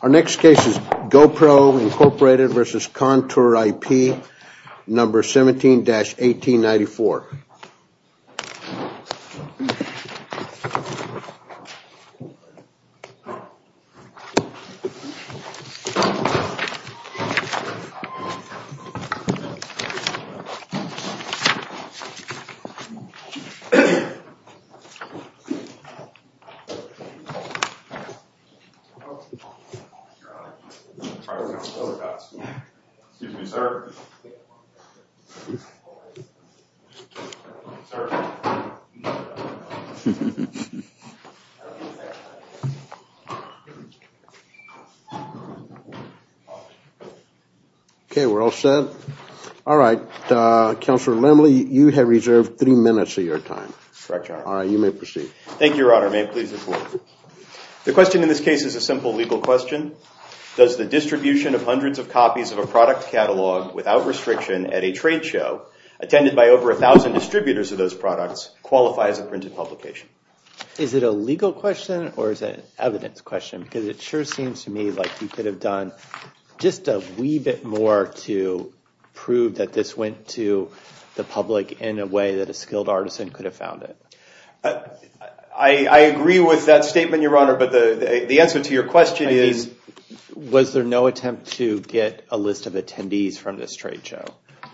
Our next case is GoPro, Inc. v. Contour IP No. 17-1894. Our next case is GoPro, Inc. v. Contour IP Holding LLC. The question in this case is a simple legal question. Does the distribution of hundreds of copies of a product catalog without restriction at a trade show attended by over 1,000 distributors of those products qualify as a printed publication? Is it a legal question or is it an evidence question? Because it sure seems to me like you could have done just a wee bit more to prove that this went to the public in a way that a skilled artisan could have found it. I agree with that statement, Your Honor, but the answer to your question is... Was there no attempt to get a list of attendees from this trade show?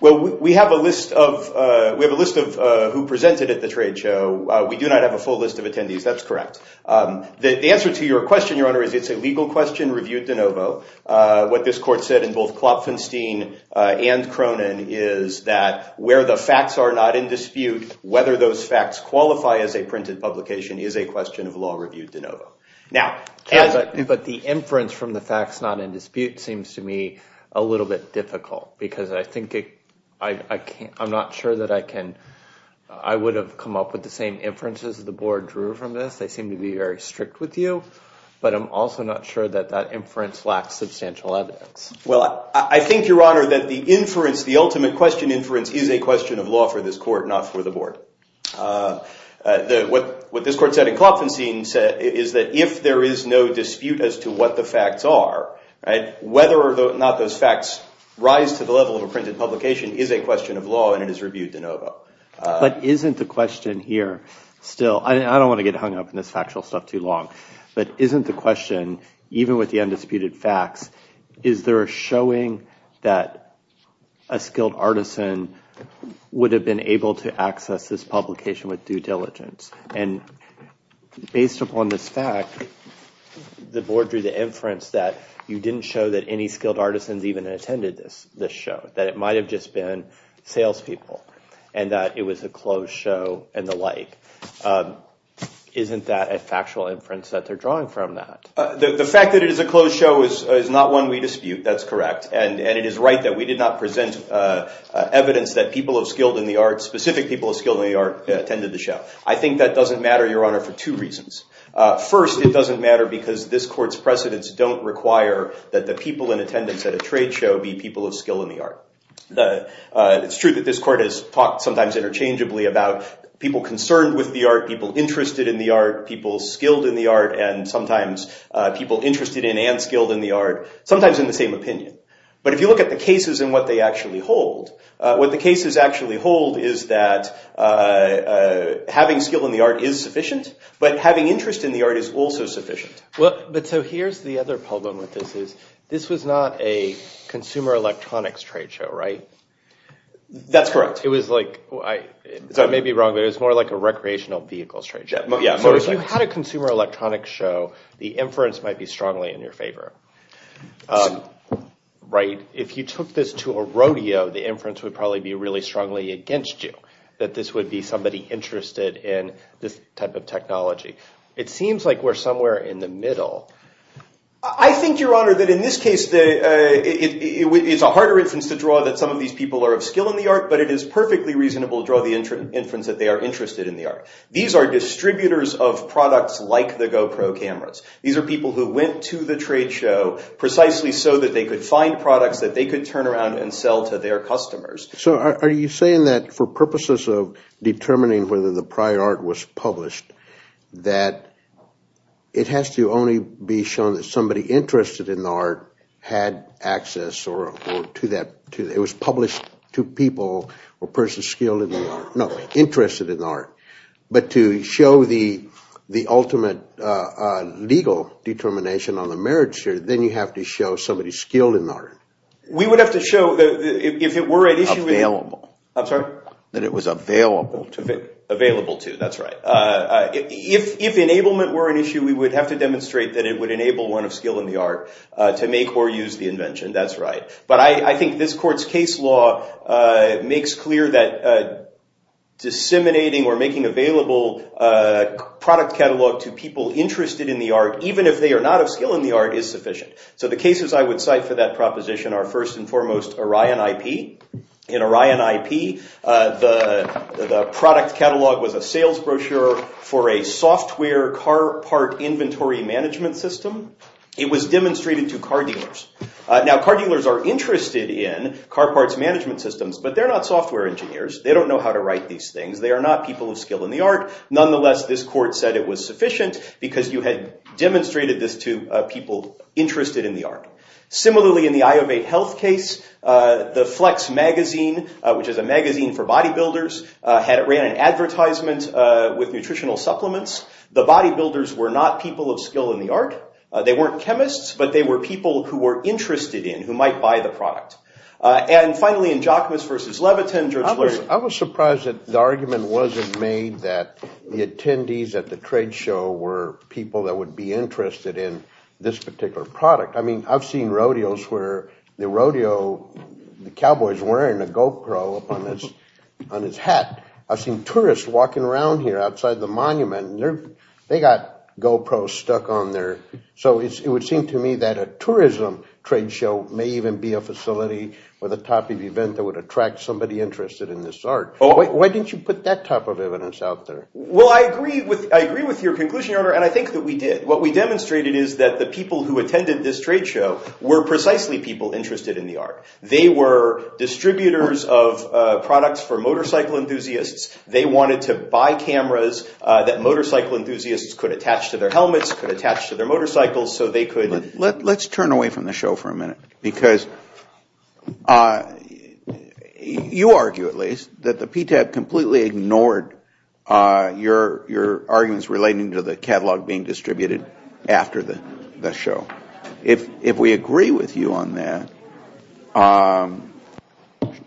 Well, we have a list of who presented at the trade show. We do not have a full list of attendees. That's correct. The answer to your question, Your Honor, is it's a legal question reviewed de novo. What this court said in both Klopfenstein and Cronin is that where the facts are not in dispute, whether those facts qualify as a printed publication is a question of law reviewed de novo. But the inference from the facts not in dispute seems to me a little bit difficult because I'm not sure that I would have come up with the same inferences the board drew from this. They seem to be very strict with you, but I'm also not sure that that inference lacks substantial evidence. Well, I think, Your Honor, that the inference, the ultimate question inference, is a question of law for this court, not for the board. What this court said in Klopfenstein is that if there is no dispute as to what the facts are, whether or not those facts rise to the level of a printed publication is a question of law and it is reviewed de novo. But isn't the question here still... I don't want to get hung up in this factual stuff too long, but isn't the question, even with the undisputed facts, is there a showing that a skilled artisan would have been able to access this publication with due diligence? And based upon this fact, the board drew the inference that you didn't show that any skilled artisans even attended this show, that it might have just been salespeople and that it was a closed show and the like. Isn't that a factual inference that they're drawing from that? The fact that it is a closed show is not one we dispute. That's correct. And it is right that we did not present evidence that people of skilled in the arts, specific people of skilled in the arts, attended the show. I think that doesn't matter, Your Honor, for two reasons. First, it doesn't matter because this court's precedents don't require that the people in attendance at a trade show be people of skill in the art. It's true that this court has talked sometimes interchangeably about people concerned with the art, people interested in the art, people skilled in the art, and sometimes people interested in and skilled in the art, sometimes in the same opinion. But if you look at the cases and what they actually hold, what the cases actually hold is that having skill in the art is sufficient, but having interest in the art is also sufficient. Here's the other problem with this. This was not a consumer electronics trade show, right? That's correct. I may be wrong, but it was more like a recreational vehicles trade show. If you had a consumer electronics show, the inference might be strongly in your favor. If you took this to a rodeo, the inference would probably be really strongly against you, that this would be somebody interested in this type of technology. It seems like we're somewhere in the middle. I think, Your Honor, that in this case, it's a harder inference to draw that some of these people are of skill in the art, but it is perfectly reasonable to draw the inference that they are interested in the art. These are distributors of products like the GoPro cameras. These are people who went to the trade show precisely so that they could find products that they could turn around and sell to their customers. Are you saying that for purposes of determining whether the prior art was published, that it has to only be shown that somebody interested in the art had access, or it was published to people or persons skilled in the art. No, interested in the art, but to show the ultimate legal determination on the marriage here, then you have to show somebody skilled in the art. We would have to show, if it were an issue. Available. I'm sorry? That it was available to them. Available to, that's right. If enablement were an issue, we would have to demonstrate that it would enable one of skill in the art to make or use the invention, that's right. But I think this court's case law makes clear that disseminating or making available product catalog to people interested in the art, even if they are not of skill in the art, is sufficient. So the cases I would cite for that proposition are first and foremost Orion IP. In Orion IP, the product catalog was a sales brochure for a software car part inventory management system. It was demonstrated to car dealers. Now, car dealers are interested in car parts management systems, but they're not software engineers. They don't know how to write these things. They are not people of skill in the art. Nonetheless, this court said it was sufficient because you had demonstrated this to people interested in the art. Similarly, in the Iovate Health case, the Flex magazine, which is a magazine for bodybuilders, ran an advertisement with nutritional supplements. The bodybuilders were not people of skill in the art. They weren't chemists, but they were people who were interested in, who might buy the product. And finally, in Jachmus v. Levitin, Judge Lurie. I was surprised that the argument wasn't made that the attendees at the trade show were people that would be interested in this particular product. I mean, I've seen rodeos where the rodeo, the cowboy is wearing a GoPro up on his hat. I've seen tourists walking around here outside the monument, and they got GoPros stuck on there. So it would seem to me that a tourism trade show may even be a facility or the type of event that would attract somebody interested in this art. Why didn't you put that type of evidence out there? Well, I agree with your conclusion, Your Honor, and I think that we did. What we demonstrated is that the people who attended this trade show were precisely people interested in the art. They were distributors of products for motorcycle enthusiasts. They wanted to buy cameras that motorcycle enthusiasts could attach to their helmets, could attach to their motorcycles, so they could. Let's turn away from the show for a minute, because you argue, at least, that the PTAB completely ignored your arguments relating to the catalog being distributed after the show. If we agree with you on that,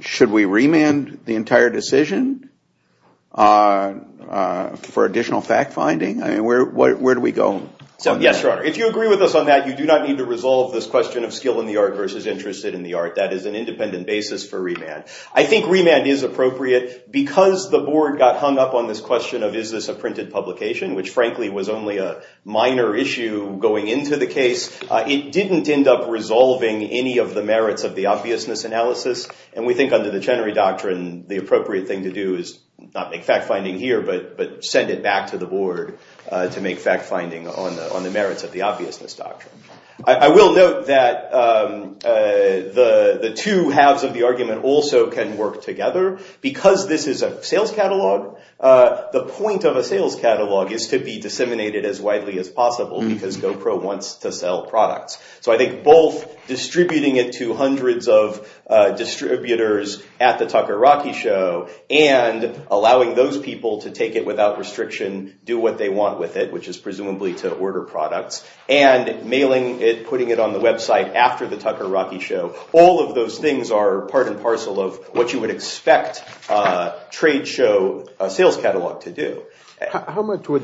should we remand the entire decision for additional fact-finding? I mean, where do we go? Yes, Your Honor, if you agree with us on that, you do not need to resolve this question of skill in the art versus interest in the art. I think remand is appropriate, because the board got hung up on this question of is this a printed publication, which frankly was only a minor issue going into the case. It didn't end up resolving any of the merits of the obviousness analysis, and we think under the Chenery Doctrine, the appropriate thing to do is not make fact-finding here, but send it back to the board to make fact-finding on the merits of the obviousness doctrine. I will note that the two halves of the argument also can work together. Because this is a sales catalog, the point of a sales catalog is to be disseminated as widely as possible, because GoPro wants to sell products. So I think both distributing it to hundreds of distributors at the Tucker-Rocky Show and allowing those people to take it without restriction, do what they want with it, which is presumably to order products, and mailing it, putting it on the website after the Tucker-Rocky Show, all of those things are part and parcel of what you would expect a trade show sales catalog to do. How much to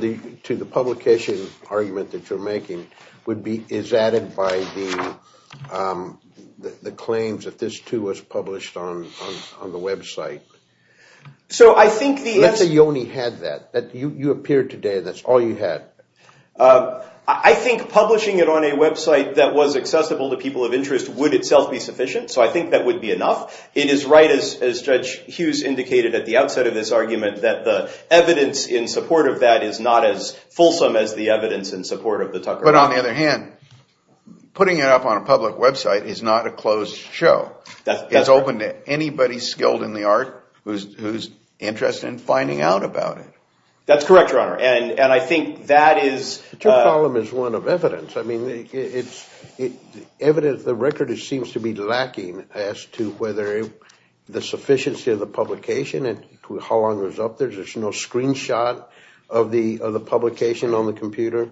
the publication argument that you're making is added by the claims that this too was published on the website? Let's say you only had that, that you appeared today and that's all you had. I think publishing it on a website that was accessible to people of interest would itself be sufficient, so I think that would be enough. It is right, as Judge Hughes indicated at the outset of this argument, that the evidence in support of that is not as fulsome as the evidence in support of the Tucker-Rocky Show. But on the other hand, putting it up on a public website is not a closed show. It's open to anybody skilled in the art who's interested in finding out about it. That's correct, Your Honor, and I think that is... Your problem is one of evidence. The record seems to be lacking as to whether the sufficiency of the publication and how long it was up there. There's no screenshot of the publication on the computer.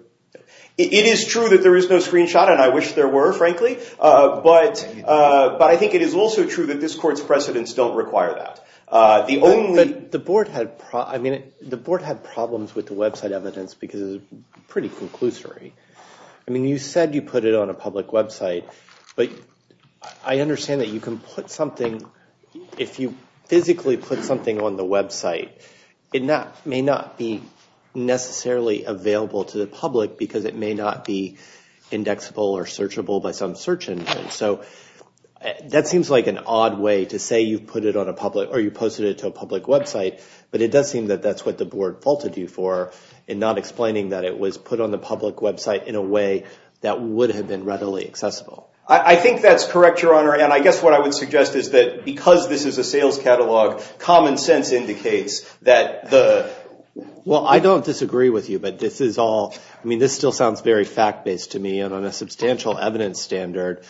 It is true that there is no screenshot, and I wish there were, frankly, but I think it is also true that this Court's precedents don't require that. But the Board had problems with the website evidence because it's pretty conclusory. I mean, you said you put it on a public website, but I understand that you can put something... If you physically put something on the website, it may not be necessarily available to the public because it may not be indexable or searchable by some search engine. So that seems like an odd way to say you've put it on a public or you posted it to a public website, but it does seem that that's what the Board faulted you for in not explaining that it was put on the public website in a way that would have been readily accessible. I think that's correct, Your Honor, and I guess what I would suggest is that because this is a sales catalog, common sense indicates that the... Well, I don't disagree with you, but this is all... I mean, this still sounds very fact-based to me, and on a substantial evidence standard,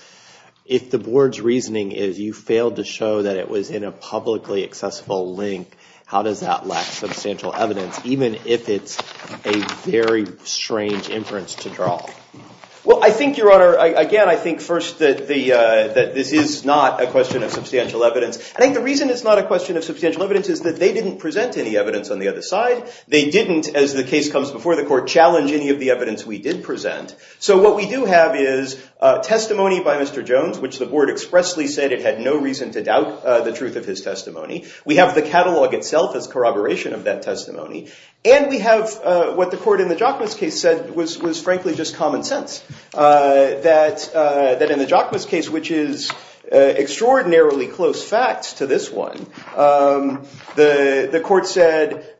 if the Board's reasoning is you failed to show that it was in a publicly accessible link, how does that lack substantial evidence, even if it's a very strange inference to draw? Well, I think, Your Honor, again, I think first that this is not a question of substantial evidence. I think the reason it's not a question of substantial evidence is that they didn't present any evidence on the other side. They didn't, as the case comes before the Court, challenge any of the evidence we did present. So what we do have is testimony by Mr. Jones, which the Board expressly said it had no reason to doubt the truth of his testimony. We have the catalog itself as corroboration of that testimony, and we have what the Court in the Jokmas case said was frankly just common sense, that in the Jokmas case, which is extraordinarily close facts to this one, the Court said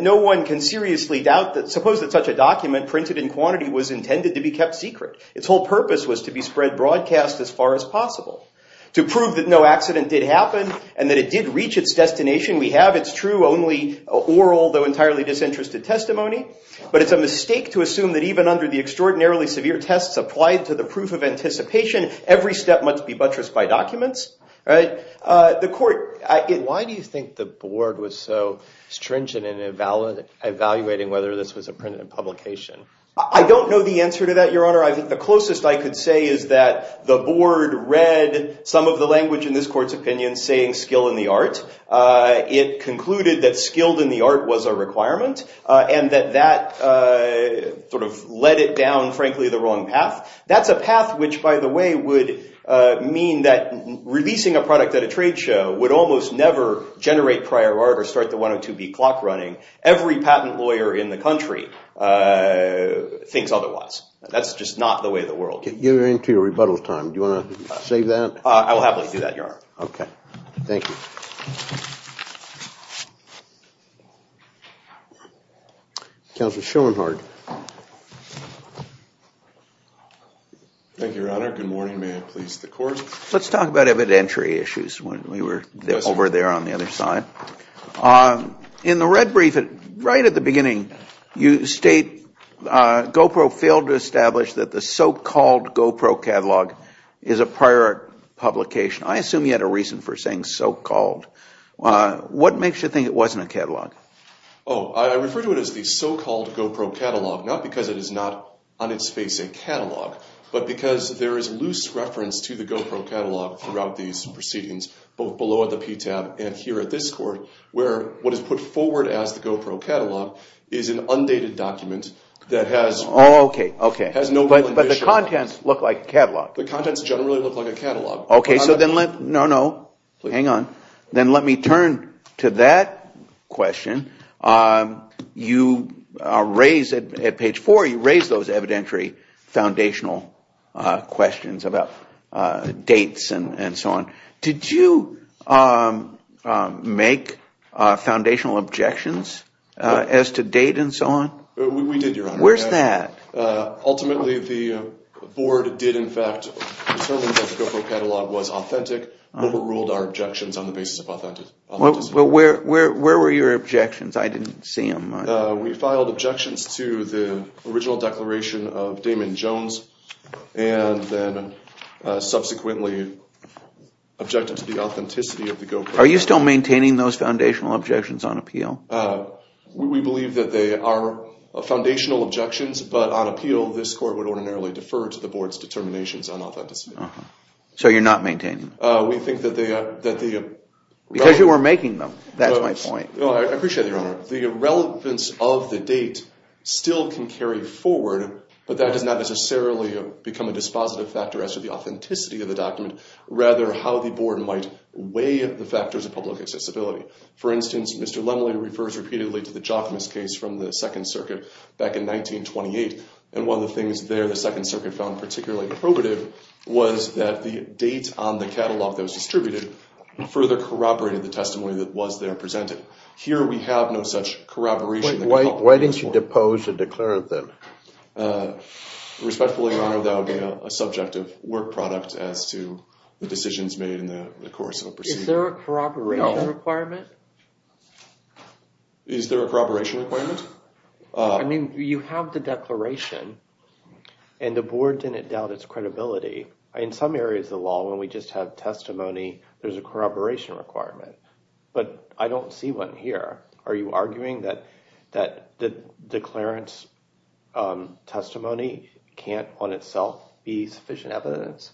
no one can seriously doubt that... Suppose that such a document printed in quantity was intended to be kept secret. Its whole purpose was to be spread broadcast as far as possible, to prove that no accident did happen and that it did reach its destination. We have, it's true, only oral, though entirely disinterested testimony. But it's a mistake to assume that even under the extraordinarily severe tests applied to the proof of anticipation, every step must be buttressed by documents. The Court... Why do you think the Board was so stringent in evaluating whether this was a printed publication? I don't know the answer to that, Your Honor. I think the closest I could say is that the Board read some of the language in this Court's opinion saying skill in the art. It concluded that skilled in the art was a requirement, and that that sort of led it down, frankly, the wrong path. That's a path which, by the way, would mean that releasing a product at a trade show would almost never generate prior art or start the 102B clock running. Every patent lawyer in the country thinks otherwise. That's just not the way of the world. You're into your rebuttal time. Do you want to save that? I will happily do that, Your Honor. Okay. Thank you. Counselor Schoenhardt. Thank you, Your Honor. Good morning. May it please the Court. Let's talk about evidentiary issues when we were over there on the other side. In the red brief, right at the beginning, you state GoPro failed to establish that the so-called GoPro catalog is a prior art publication. I assume you had a reason for saying so-called. What makes you think it wasn't a catalog? Oh, I refer to it as the so-called GoPro catalog, not because it is not on its face a catalog, but because there is loose reference to the GoPro catalog throughout these proceedings, both below at the PTAB and here at this Court, where what is put forward as the GoPro catalog is an undated document that has no real initial. Okay. But the contents look like a catalog. The contents generally look like a catalog. Okay. No, no. Hang on. Then let me turn to that question. You raise, at page four, you raise those evidentiary foundational questions about dates and so on. Did you make foundational objections as to date and so on? We did, Your Honor. Where is that? Ultimately, the Board did, in fact, determine that the GoPro catalog was authentic. We ruled our objections on the basis of authenticity. Well, where were your objections? I didn't see them. We filed objections to the original declaration of Damon Jones and then subsequently objected to the authenticity of the GoPro. Are you still maintaining those foundational objections on appeal? We believe that they are foundational objections, but on appeal, this Court would ordinarily defer to the Board's determinations on authenticity. So you're not maintaining them? Because you weren't making them. That's my point. Well, I appreciate it, Your Honor. The relevance of the date still can carry forward, but that does not necessarily become a dispositive factor as to the authenticity of the document, rather how the Board might weigh the factors of public accessibility. For instance, Mr. Lemley refers repeatedly to the Jockmas case from the Second Circuit back in 1928, and one of the things there the Second Circuit found particularly probative was that the date on the catalog that was distributed further corroborated the testimony that was there presented. Here, we have no such corroboration. Why didn't you depose or declare it then? Respectfully, Your Honor, that would be a subject of work product as to the decisions made in the course of a proceeding. Is there a corroboration requirement? No. Is there a corroboration requirement? I mean, you have the declaration, and the Board didn't doubt its credibility. In some areas of the law, when we just have testimony, there's a corroboration requirement. But I don't see one here. Are you arguing that the declarant's testimony can't on itself be sufficient evidence?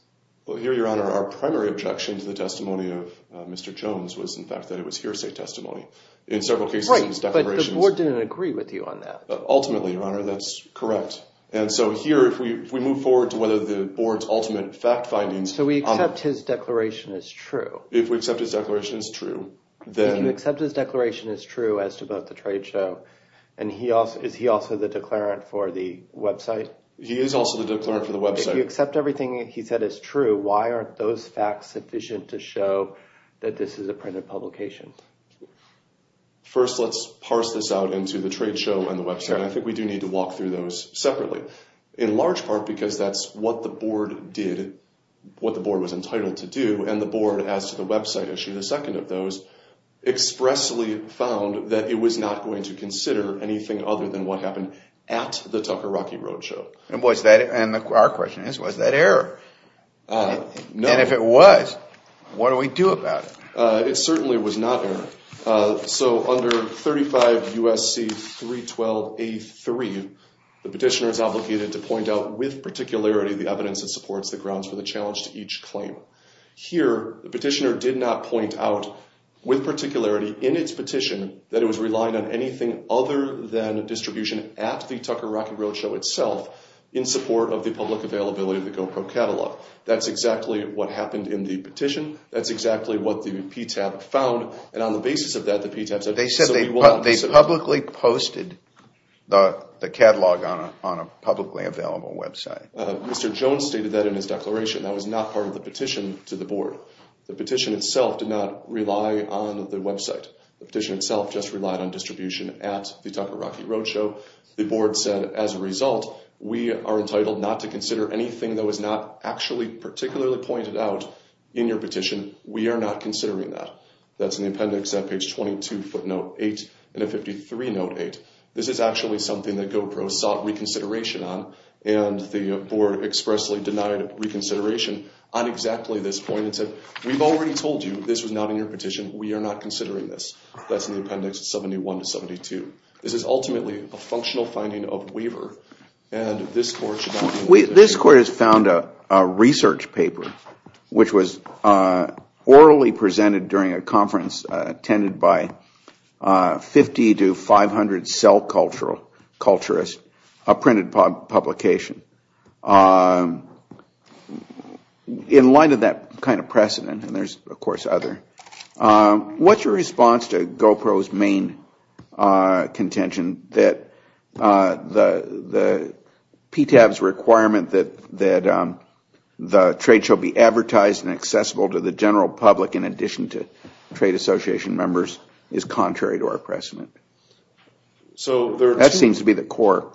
Well, here, Your Honor, our primary objection to the testimony of Mr. Jones was, in fact, that it was hearsay testimony. Right, but the Board didn't agree with you on that. Ultimately, Your Honor, that's correct. And so here, if we move forward to whether the Board's ultimate fact findings— So we accept his declaration as true? If we accept his declaration as true, then— If you accept his declaration as true as to both the trade show, is he also the declarant for the website? He is also the declarant for the website. If you accept everything he said as true, why aren't those facts sufficient to show that this is a printed publication? First, let's parse this out into the trade show and the website, and I think we do need to walk through those separately. In large part because that's what the Board did, what the Board was entitled to do, and the Board, as to the website issue, the second of those, expressly found that it was not going to consider anything other than what happened at the Tucker-Rocky Road show. And was that—and our question is, was that error? No. And if it was, what do we do about it? It certainly was not error. So under 35 U.S.C. 312 A.3, the petitioner is obligated to point out with particularity the evidence that supports the grounds for the challenge to each claim. Here, the petitioner did not point out with particularity in its petition that it was relying on anything other than distribution at the Tucker-Rocky Road show itself in support of the public availability of the GoPro catalog. That's exactly what happened in the petition. That's exactly what the PTAB found. And on the basis of that, the PTAB said— They said they publicly posted the catalog on a publicly available website. Mr. Jones stated that in his declaration. That was not part of the petition to the Board. The petition itself did not rely on the website. The petition itself just relied on distribution at the Tucker-Rocky Road show. The Board said, as a result, we are entitled not to consider anything that was not actually particularly pointed out in your petition. We are not considering that. That's in the appendix at page 22 footnote 8 and at 53 note 8. This is actually something that GoPro sought reconsideration on. And the Board expressly denied reconsideration on exactly this point. It said, we've already told you this was not in your petition. We are not considering this. That's in the appendix 71 to 72. This is ultimately a functional finding of Weaver. And this Court should not— This Court has found a research paper, which was orally presented during a conference attended by 50 to 500 cell culturists, a printed publication. In light of that kind of precedent, and there's of course other, what's your response to GoPro's main contention that the PTAB's requirement that the trade shall be advertised and accessible to the general public in addition to trade association members is contrary to our precedent? That seems to be the core.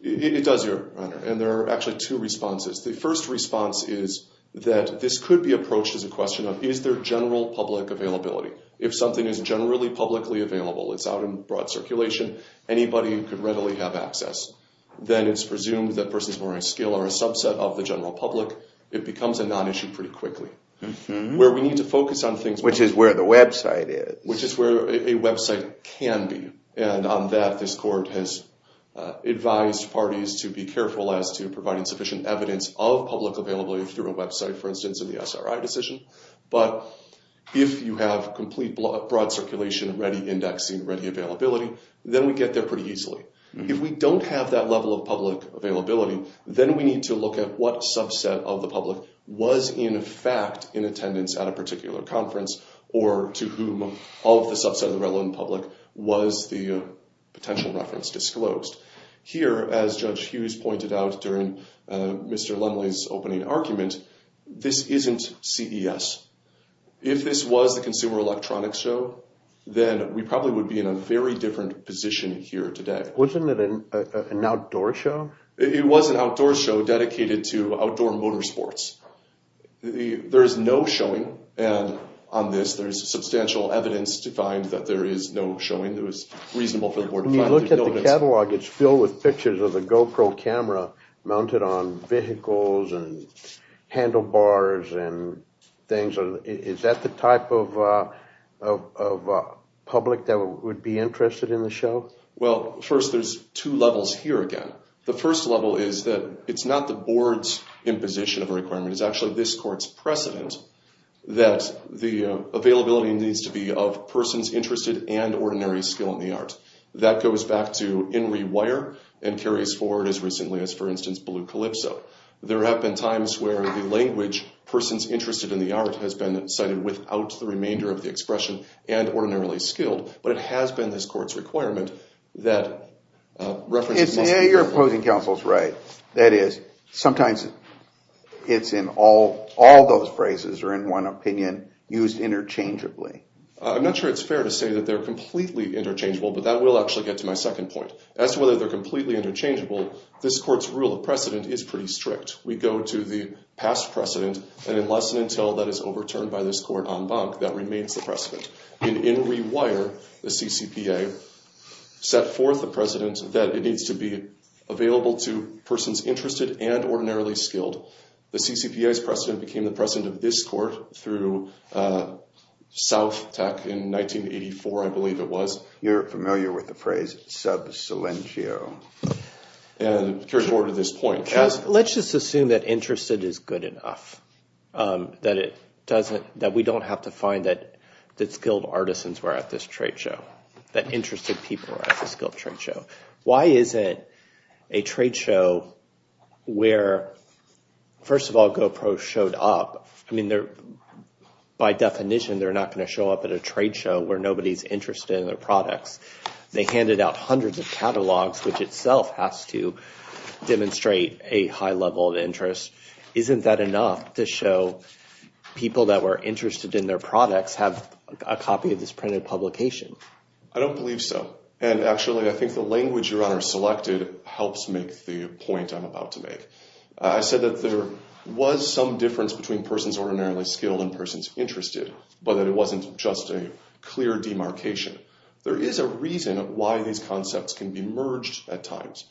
It does, Your Honor. And there are actually two responses. The first response is that this could be approached as a question of, is there general public availability? If something is generally publicly available, it's out in broad circulation, anybody could readily have access. Then it's presumed that persons who are on a scale or a subset of the general public, it becomes a non-issue pretty quickly. Where we need to focus on things— Which is where the website is. Which is where a website can be. And on that, this Court has advised parties to be careful as to providing sufficient evidence of public availability through a website, for instance, in the SRI decision. But if you have complete broad circulation, ready indexing, ready availability, then we get there pretty easily. If we don't have that level of public availability, then we need to look at what subset of the public was in fact in attendance at a particular conference, or to whom of the subset of the relevant public was the potential reference disclosed. Here, as Judge Hughes pointed out during Mr. Lemley's opening argument, this isn't CES. If this was the Consumer Electronics Show, then we probably would be in a very different position here today. Wasn't it an outdoor show? It was an outdoor show dedicated to outdoor motorsports. There is no showing on this. There is substantial evidence to find that there is no showing that was reasonable for the Board to find. When you look at the catalog, it's filled with pictures of the GoPro camera mounted on vehicles and handlebars and things. Is that the type of public that would be interested in the show? Well, first, there's two levels here again. The first level is that it's not the Board's imposition of a requirement. It's actually this Court's precedent that the availability needs to be of persons interested and ordinary skill in the art. That goes back to Henry Weyer and carries forward as recently as, for instance, Blue Calypso. There have been times where the language, persons interested in the art, has been cited without the remainder of the expression and ordinarily skilled, but it has been this Court's requirement that references must be available. The opposing counsel is right. That is, sometimes it's in all those phrases or in one opinion used interchangeably. I'm not sure it's fair to say that they're completely interchangeable, but that will actually get to my second point. As to whether they're completely interchangeable, this Court's rule of precedent is pretty strict. We go to the past precedent, and unless and until that is overturned by this Court en banc, that remains the precedent. In Henry Weyer, the CCPA set forth the precedent that it needs to be available to persons interested and ordinarily skilled. The CCPA's precedent became the precedent of this Court through South Tech in 1984, I believe it was. You're familiar with the phrase sub silentio. And it carries forward to this point. Let's just assume that interested is good enough, that we don't have to find that skilled artisans were at this trade show, that interested people were at the skilled trade show. Why is it a trade show where, first of all, GoPro showed up? I mean, by definition, they're not going to show up at a trade show where nobody's interested in their products. They handed out hundreds of catalogs, which itself has to demonstrate a high level of interest. Isn't that enough to show people that were interested in their products have a copy of this printed publication? I don't believe so. And actually, I think the language Your Honor selected helps make the point I'm about to make. I said that there was some difference between persons ordinarily skilled and persons interested, but that it wasn't just a clear demarcation. There is a reason why these concepts can be merged at times.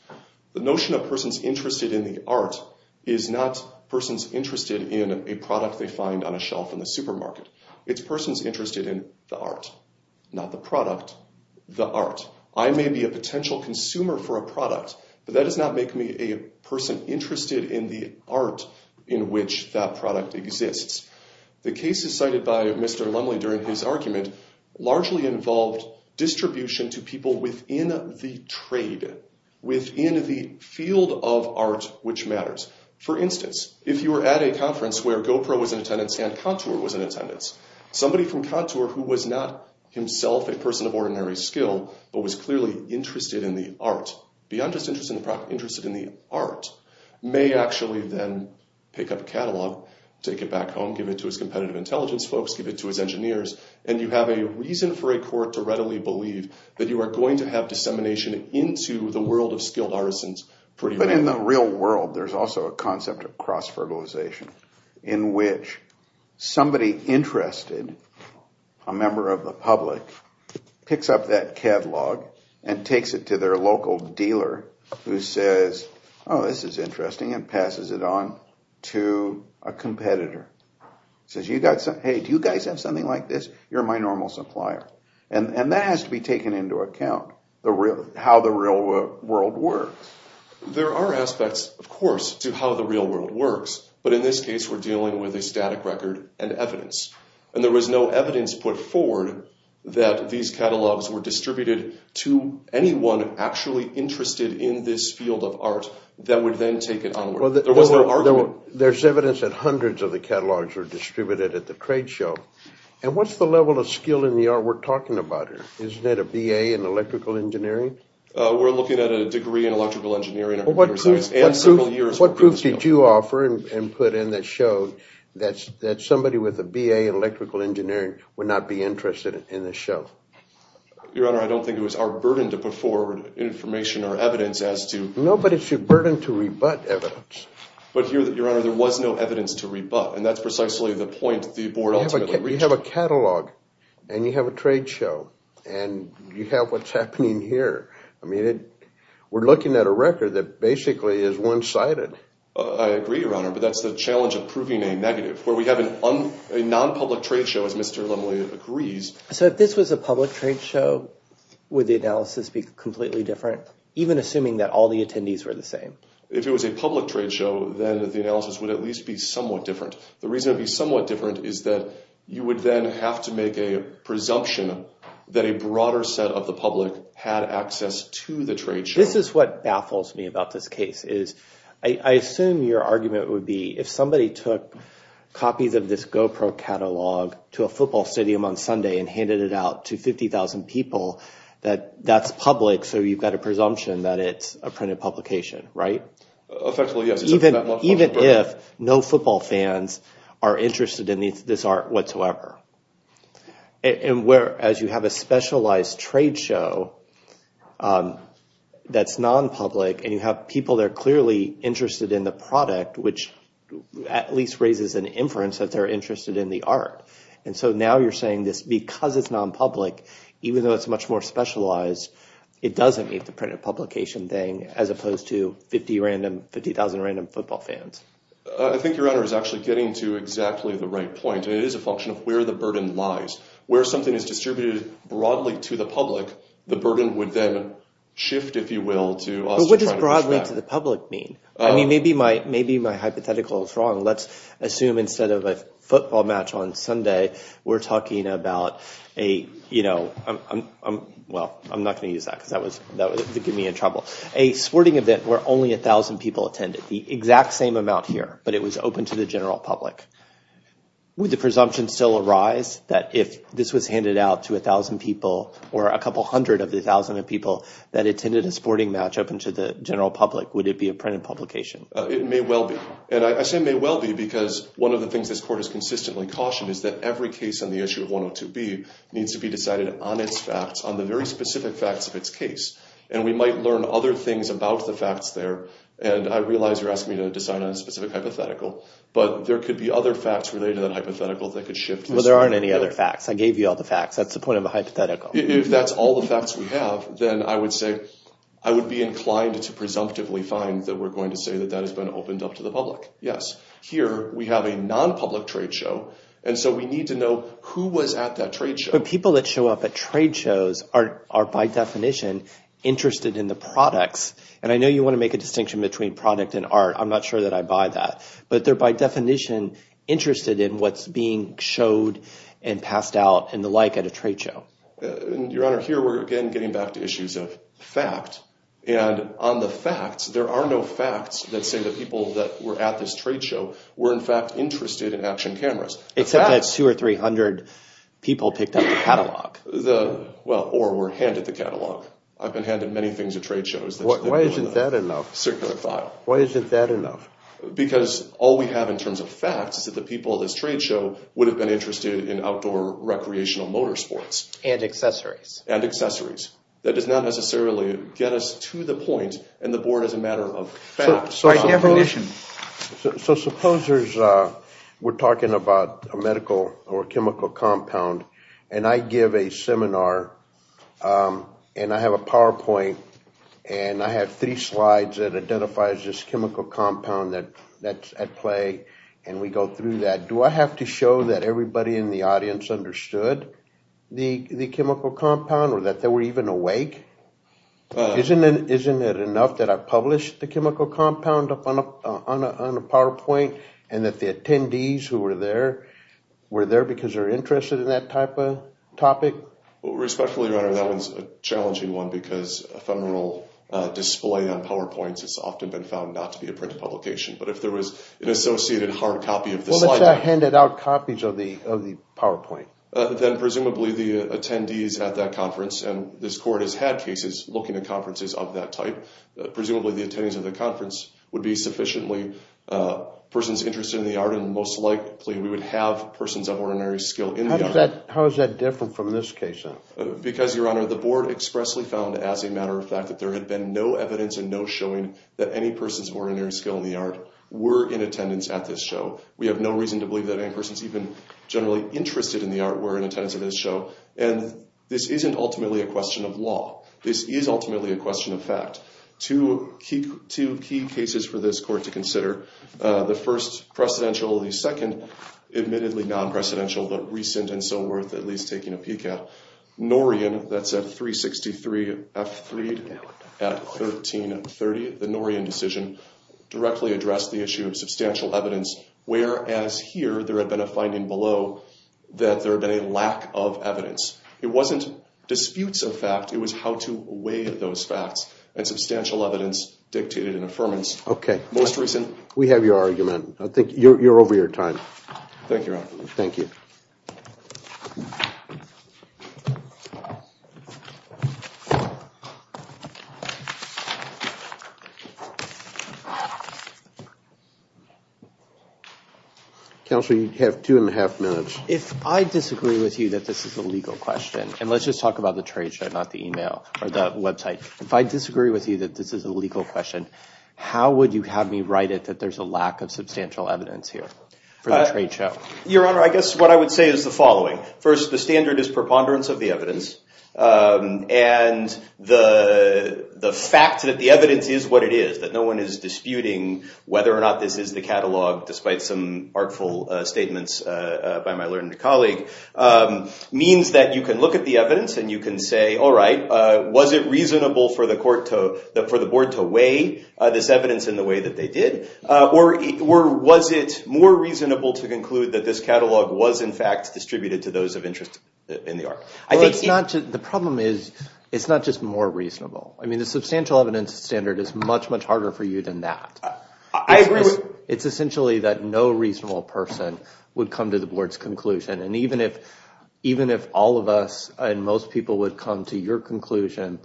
The notion of persons interested in the art is not persons interested in a product they find on a shelf in the supermarket. It's persons interested in the art, not the product, the art. I may be a potential consumer for a product, but that does not make me a person interested in the art in which that product exists. The cases cited by Mr. Lumley during his argument largely involved distribution to people within the trade, within the field of art which matters. For instance, if you were at a conference where GoPro was in attendance and Contour was in attendance, somebody from Contour who was not himself a person of ordinary skill, but was clearly interested in the art, may actually then pick up a catalog, take it back home, give it to his competitive intelligence folks, give it to his engineers, and you have a reason for a court to readily believe that you are going to have dissemination into the world of skilled artisans pretty rapidly. In the real world, there's also a concept of cross-fertilization in which somebody interested, a member of the public, picks up that catalog and takes it to their local dealer who says, oh, this is interesting, and passes it on to a competitor. Says, hey, do you guys have something like this? You're my normal supplier. And that has to be taken into account, how the real world works. There are aspects, of course, to how the real world works. But in this case, we're dealing with a static record and evidence. And there was no evidence put forward that these catalogs were distributed to anyone actually interested in this field of art that would then take it onward. There was no argument. There's evidence that hundreds of the catalogs were distributed at the trade show. And what's the level of skill in the art we're talking about here? Isn't that a BA in electrical engineering? We're looking at a degree in electrical engineering and computer science. What proof did you offer and put in that showed that somebody with a BA in electrical engineering would not be interested in this show? Your Honor, I don't think it was our burden to put forward information or evidence as to— No, but it's your burden to rebut evidence. But here, Your Honor, there was no evidence to rebut. And that's precisely the point the board ultimately reached. You have a catalog and you have a trade show, and you have what's happening here. I mean, we're looking at a record that basically is one-sided. I agree, Your Honor, but that's the challenge of proving a negative. Where we have a non-public trade show, as Mr. Lemley agrees— So if this was a public trade show, would the analysis be completely different, even assuming that all the attendees were the same? If it was a public trade show, then the analysis would at least be somewhat different. The reason it would be somewhat different is that you would then have to make a presumption that a broader set of the public had access to the trade show. This is what baffles me about this case. I assume your argument would be if somebody took copies of this GoPro catalog to a football stadium on Sunday and handed it out to 50,000 people, that that's public. So you've got a presumption that it's a printed publication, right? Effectively, yes. Even if no football fans are interested in this art whatsoever. Whereas you have a specialized trade show that's non-public, and you have people that are clearly interested in the product, which at least raises an inference that they're interested in the art. And so now you're saying this because it's non-public, even though it's much more specialized, it doesn't meet the printed publication thing as opposed to 50,000 random football fans. I think your honor is actually getting to exactly the right point. It is a function of where the burden lies. Where something is distributed broadly to the public, the burden would then shift, if you will, to us trying to push back. But what does broadly to the public mean? I mean, maybe my hypothetical is wrong. Let's assume instead of a football match on Sunday, we're talking about a – well, I'm not going to use that because that would get me in trouble. A sporting event where only 1,000 people attended, the exact same amount here, but it was open to the general public. Would the presumption still arise that if this was handed out to 1,000 people or a couple hundred of the 1,000 people that attended a sporting match open to the general public, would it be a printed publication? It may well be. And I say may well be because one of the things this court has consistently cautioned is that every case on the issue of 102B needs to be decided on its facts, on the very specific facts of its case. And we might learn other things about the facts there. And I realize you're asking me to decide on a specific hypothetical, but there could be other facts related to that hypothetical that could shift this. Well, there aren't any other facts. I gave you all the facts. That's the point of a hypothetical. If that's all the facts we have, then I would say I would be inclined to presumptively find that we're going to say that that has been opened up to the public. Yes. Here we have a nonpublic trade show, and so we need to know who was at that trade show. But people that show up at trade shows are by definition interested in the products. And I know you want to make a distinction between product and art. I'm not sure that I buy that. But they're by definition interested in what's being showed and passed out and the like at a trade show. Your Honor, here we're again getting back to issues of fact. And on the facts, there are no facts that say that people that were at this trade show were in fact interested in action cameras. Except that two or three hundred people picked up the catalog. Well, or were handed the catalog. I've been handed many things at trade shows. Why isn't that enough? Circular file. Why isn't that enough? Because all we have in terms of facts is that the people at this trade show would have been interested in outdoor recreational motor sports. And accessories. And accessories. That does not necessarily get us to the point, and the board is a matter of facts. By definition. So supposers, we're talking about a medical or chemical compound. And I give a seminar. And I have a PowerPoint. And I have three slides that identifies this chemical compound that's at play. And we go through that. Do I have to show that everybody in the audience understood the chemical compound or that they were even awake? Isn't it enough that I published the chemical compound on a PowerPoint and that the attendees who were there were there because they're interested in that type of topic? Respectfully, Your Honor, that was a challenging one because a femoral display on PowerPoints has often been found not to be a printed publication. But if there was an associated hard copy of the slide. Well, let's say I handed out copies of the PowerPoint. Then presumably the attendees at that conference, and this court has had cases looking at conferences of that type. Presumably the attendees of the conference would be sufficiently persons interested in the art. And most likely we would have persons of ordinary skill in the art. How is that different from this case? Because, Your Honor, the board expressly found as a matter of fact that there had been no evidence and no showing that any persons of ordinary skill in the art were in attendance at this show. We have no reason to believe that any persons even generally interested in the art were in attendance at this show. And this isn't ultimately a question of law. This is ultimately a question of fact. Two key cases for this court to consider. The first, precedential. The second, admittedly non-precedential, but recent and so worth at least taking a peek at. Norian, that's at 363 F3 at 1330. The Norian decision directly addressed the issue of substantial evidence, whereas here there had been a finding below that there had been a lack of evidence. It wasn't disputes of fact, it was how to weigh those facts. And substantial evidence dictated an affirmance. Okay. Most recent. We have your argument. I think you're over your time. Thank you, Your Honor. Thank you. Counsel, you have two and a half minutes. If I disagree with you that this is a legal question, and let's just talk about the trade show, not the email or the website. If I disagree with you that this is a legal question, how would you have me write it that there's a lack of substantial evidence here for the trade show? Your Honor, I guess what I would say is the following. First, the standard is preponderance of the evidence. And the fact that the evidence is what it is, that no one is disputing whether or not this is the catalog, despite some artful statements by my learned colleague, means that you can look at the evidence and you can say, all right, was it reasonable for the board to weigh this evidence in the way that they did? Or was it more reasonable to conclude that this catalog was, in fact, distributed to those of interest in the art? The problem is it's not just more reasonable. I mean, the substantial evidence standard is much, much harder for you than that. I agree. It's essentially that no reasonable person would come to the board's conclusion. And even if all of us and most people would come to your conclusion,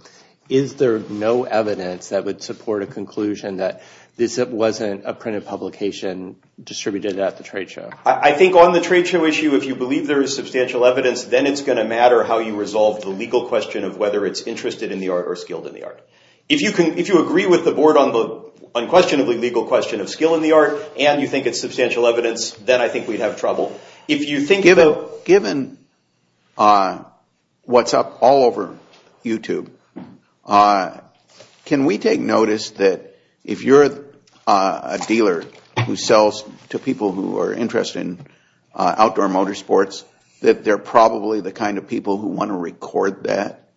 is there no evidence that would support a conclusion that this wasn't a printed publication distributed at the trade show? I think on the trade show issue, if you believe there is substantial evidence, then it's going to matter how you resolve the legal question of whether it's interested in the art or skilled in the art. If you agree with the board on the unquestionably legal question of skill in the art and you think it's substantial evidence, then I think we'd have trouble. Given what's up all over YouTube, can we take notice that if you're a dealer who sells to people who are interested in outdoor motorsports, that they're probably the kind of people who want to record that?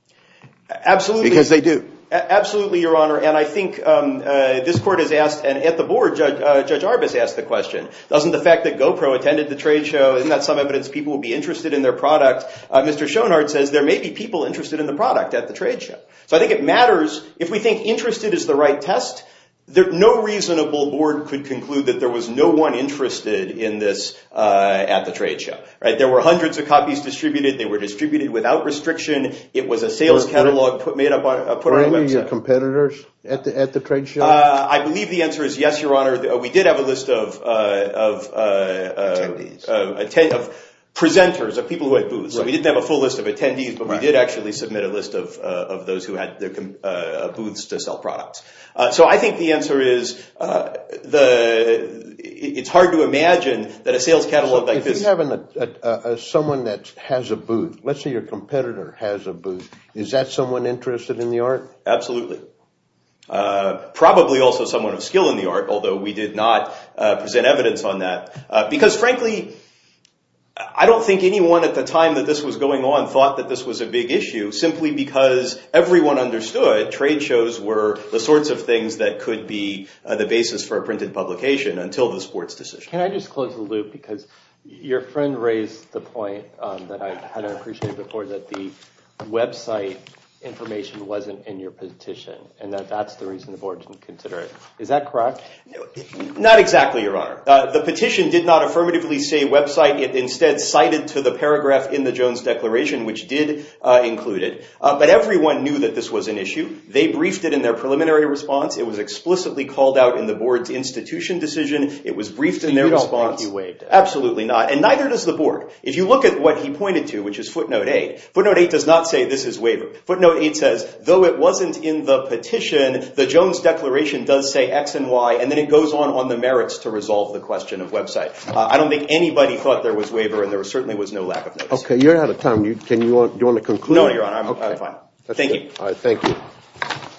Absolutely. Because they do. Absolutely, Your Honor. And I think this court has asked, and at the board, Judge Arbus asked the question, doesn't the fact that GoPro attended the trade show, isn't that some evidence people would be interested in their product? Mr. Schonhardt says there may be people interested in the product at the trade show. So I think it matters if we think interested is the right test. No reasonable board could conclude that there was no one interested in this at the trade show. There were hundreds of copies distributed. They were distributed without restriction. It was a sales catalog put on a website. Were any of your competitors at the trade show? I believe the answer is yes, Your Honor. We did have a list of presenters, of people who had booths. We didn't have a full list of attendees, but we did actually submit a list of those who had booths to sell products. So I think the answer is it's hard to imagine that a sales catalog like this… You have someone that has a booth. Let's say your competitor has a booth. Is that someone interested in the art? Absolutely. Probably also someone of skill in the art, although we did not present evidence on that. Because, frankly, I don't think anyone at the time that this was going on thought that this was a big issue, simply because everyone understood trade shows were the sorts of things that could be the basis for a printed publication until the sports decision. Can I just close the loop, because your friend raised the point that I had appreciated before, that the website information wasn't in your petition, and that that's the reason the board didn't consider it. Is that correct? Not exactly, Your Honor. The petition did not affirmatively say website. It instead cited to the paragraph in the Jones Declaration, which did include it. But everyone knew that this was an issue. They briefed it in their preliminary response. It was explicitly called out in the board's institution decision. It was briefed in their response. So you don't think he waived it? Absolutely not, and neither does the board. If you look at what he pointed to, which is footnote 8, footnote 8 does not say this is waiver. Footnote 8 says, though it wasn't in the petition, the Jones Declaration does say X and Y, and then it goes on on the merits to resolve the question of website. I don't think anybody thought there was waiver, and there certainly was no lack of notice. Okay, you're out of time. Do you want to conclude? No, Your Honor, I'm fine. Thank you. All right, thank you.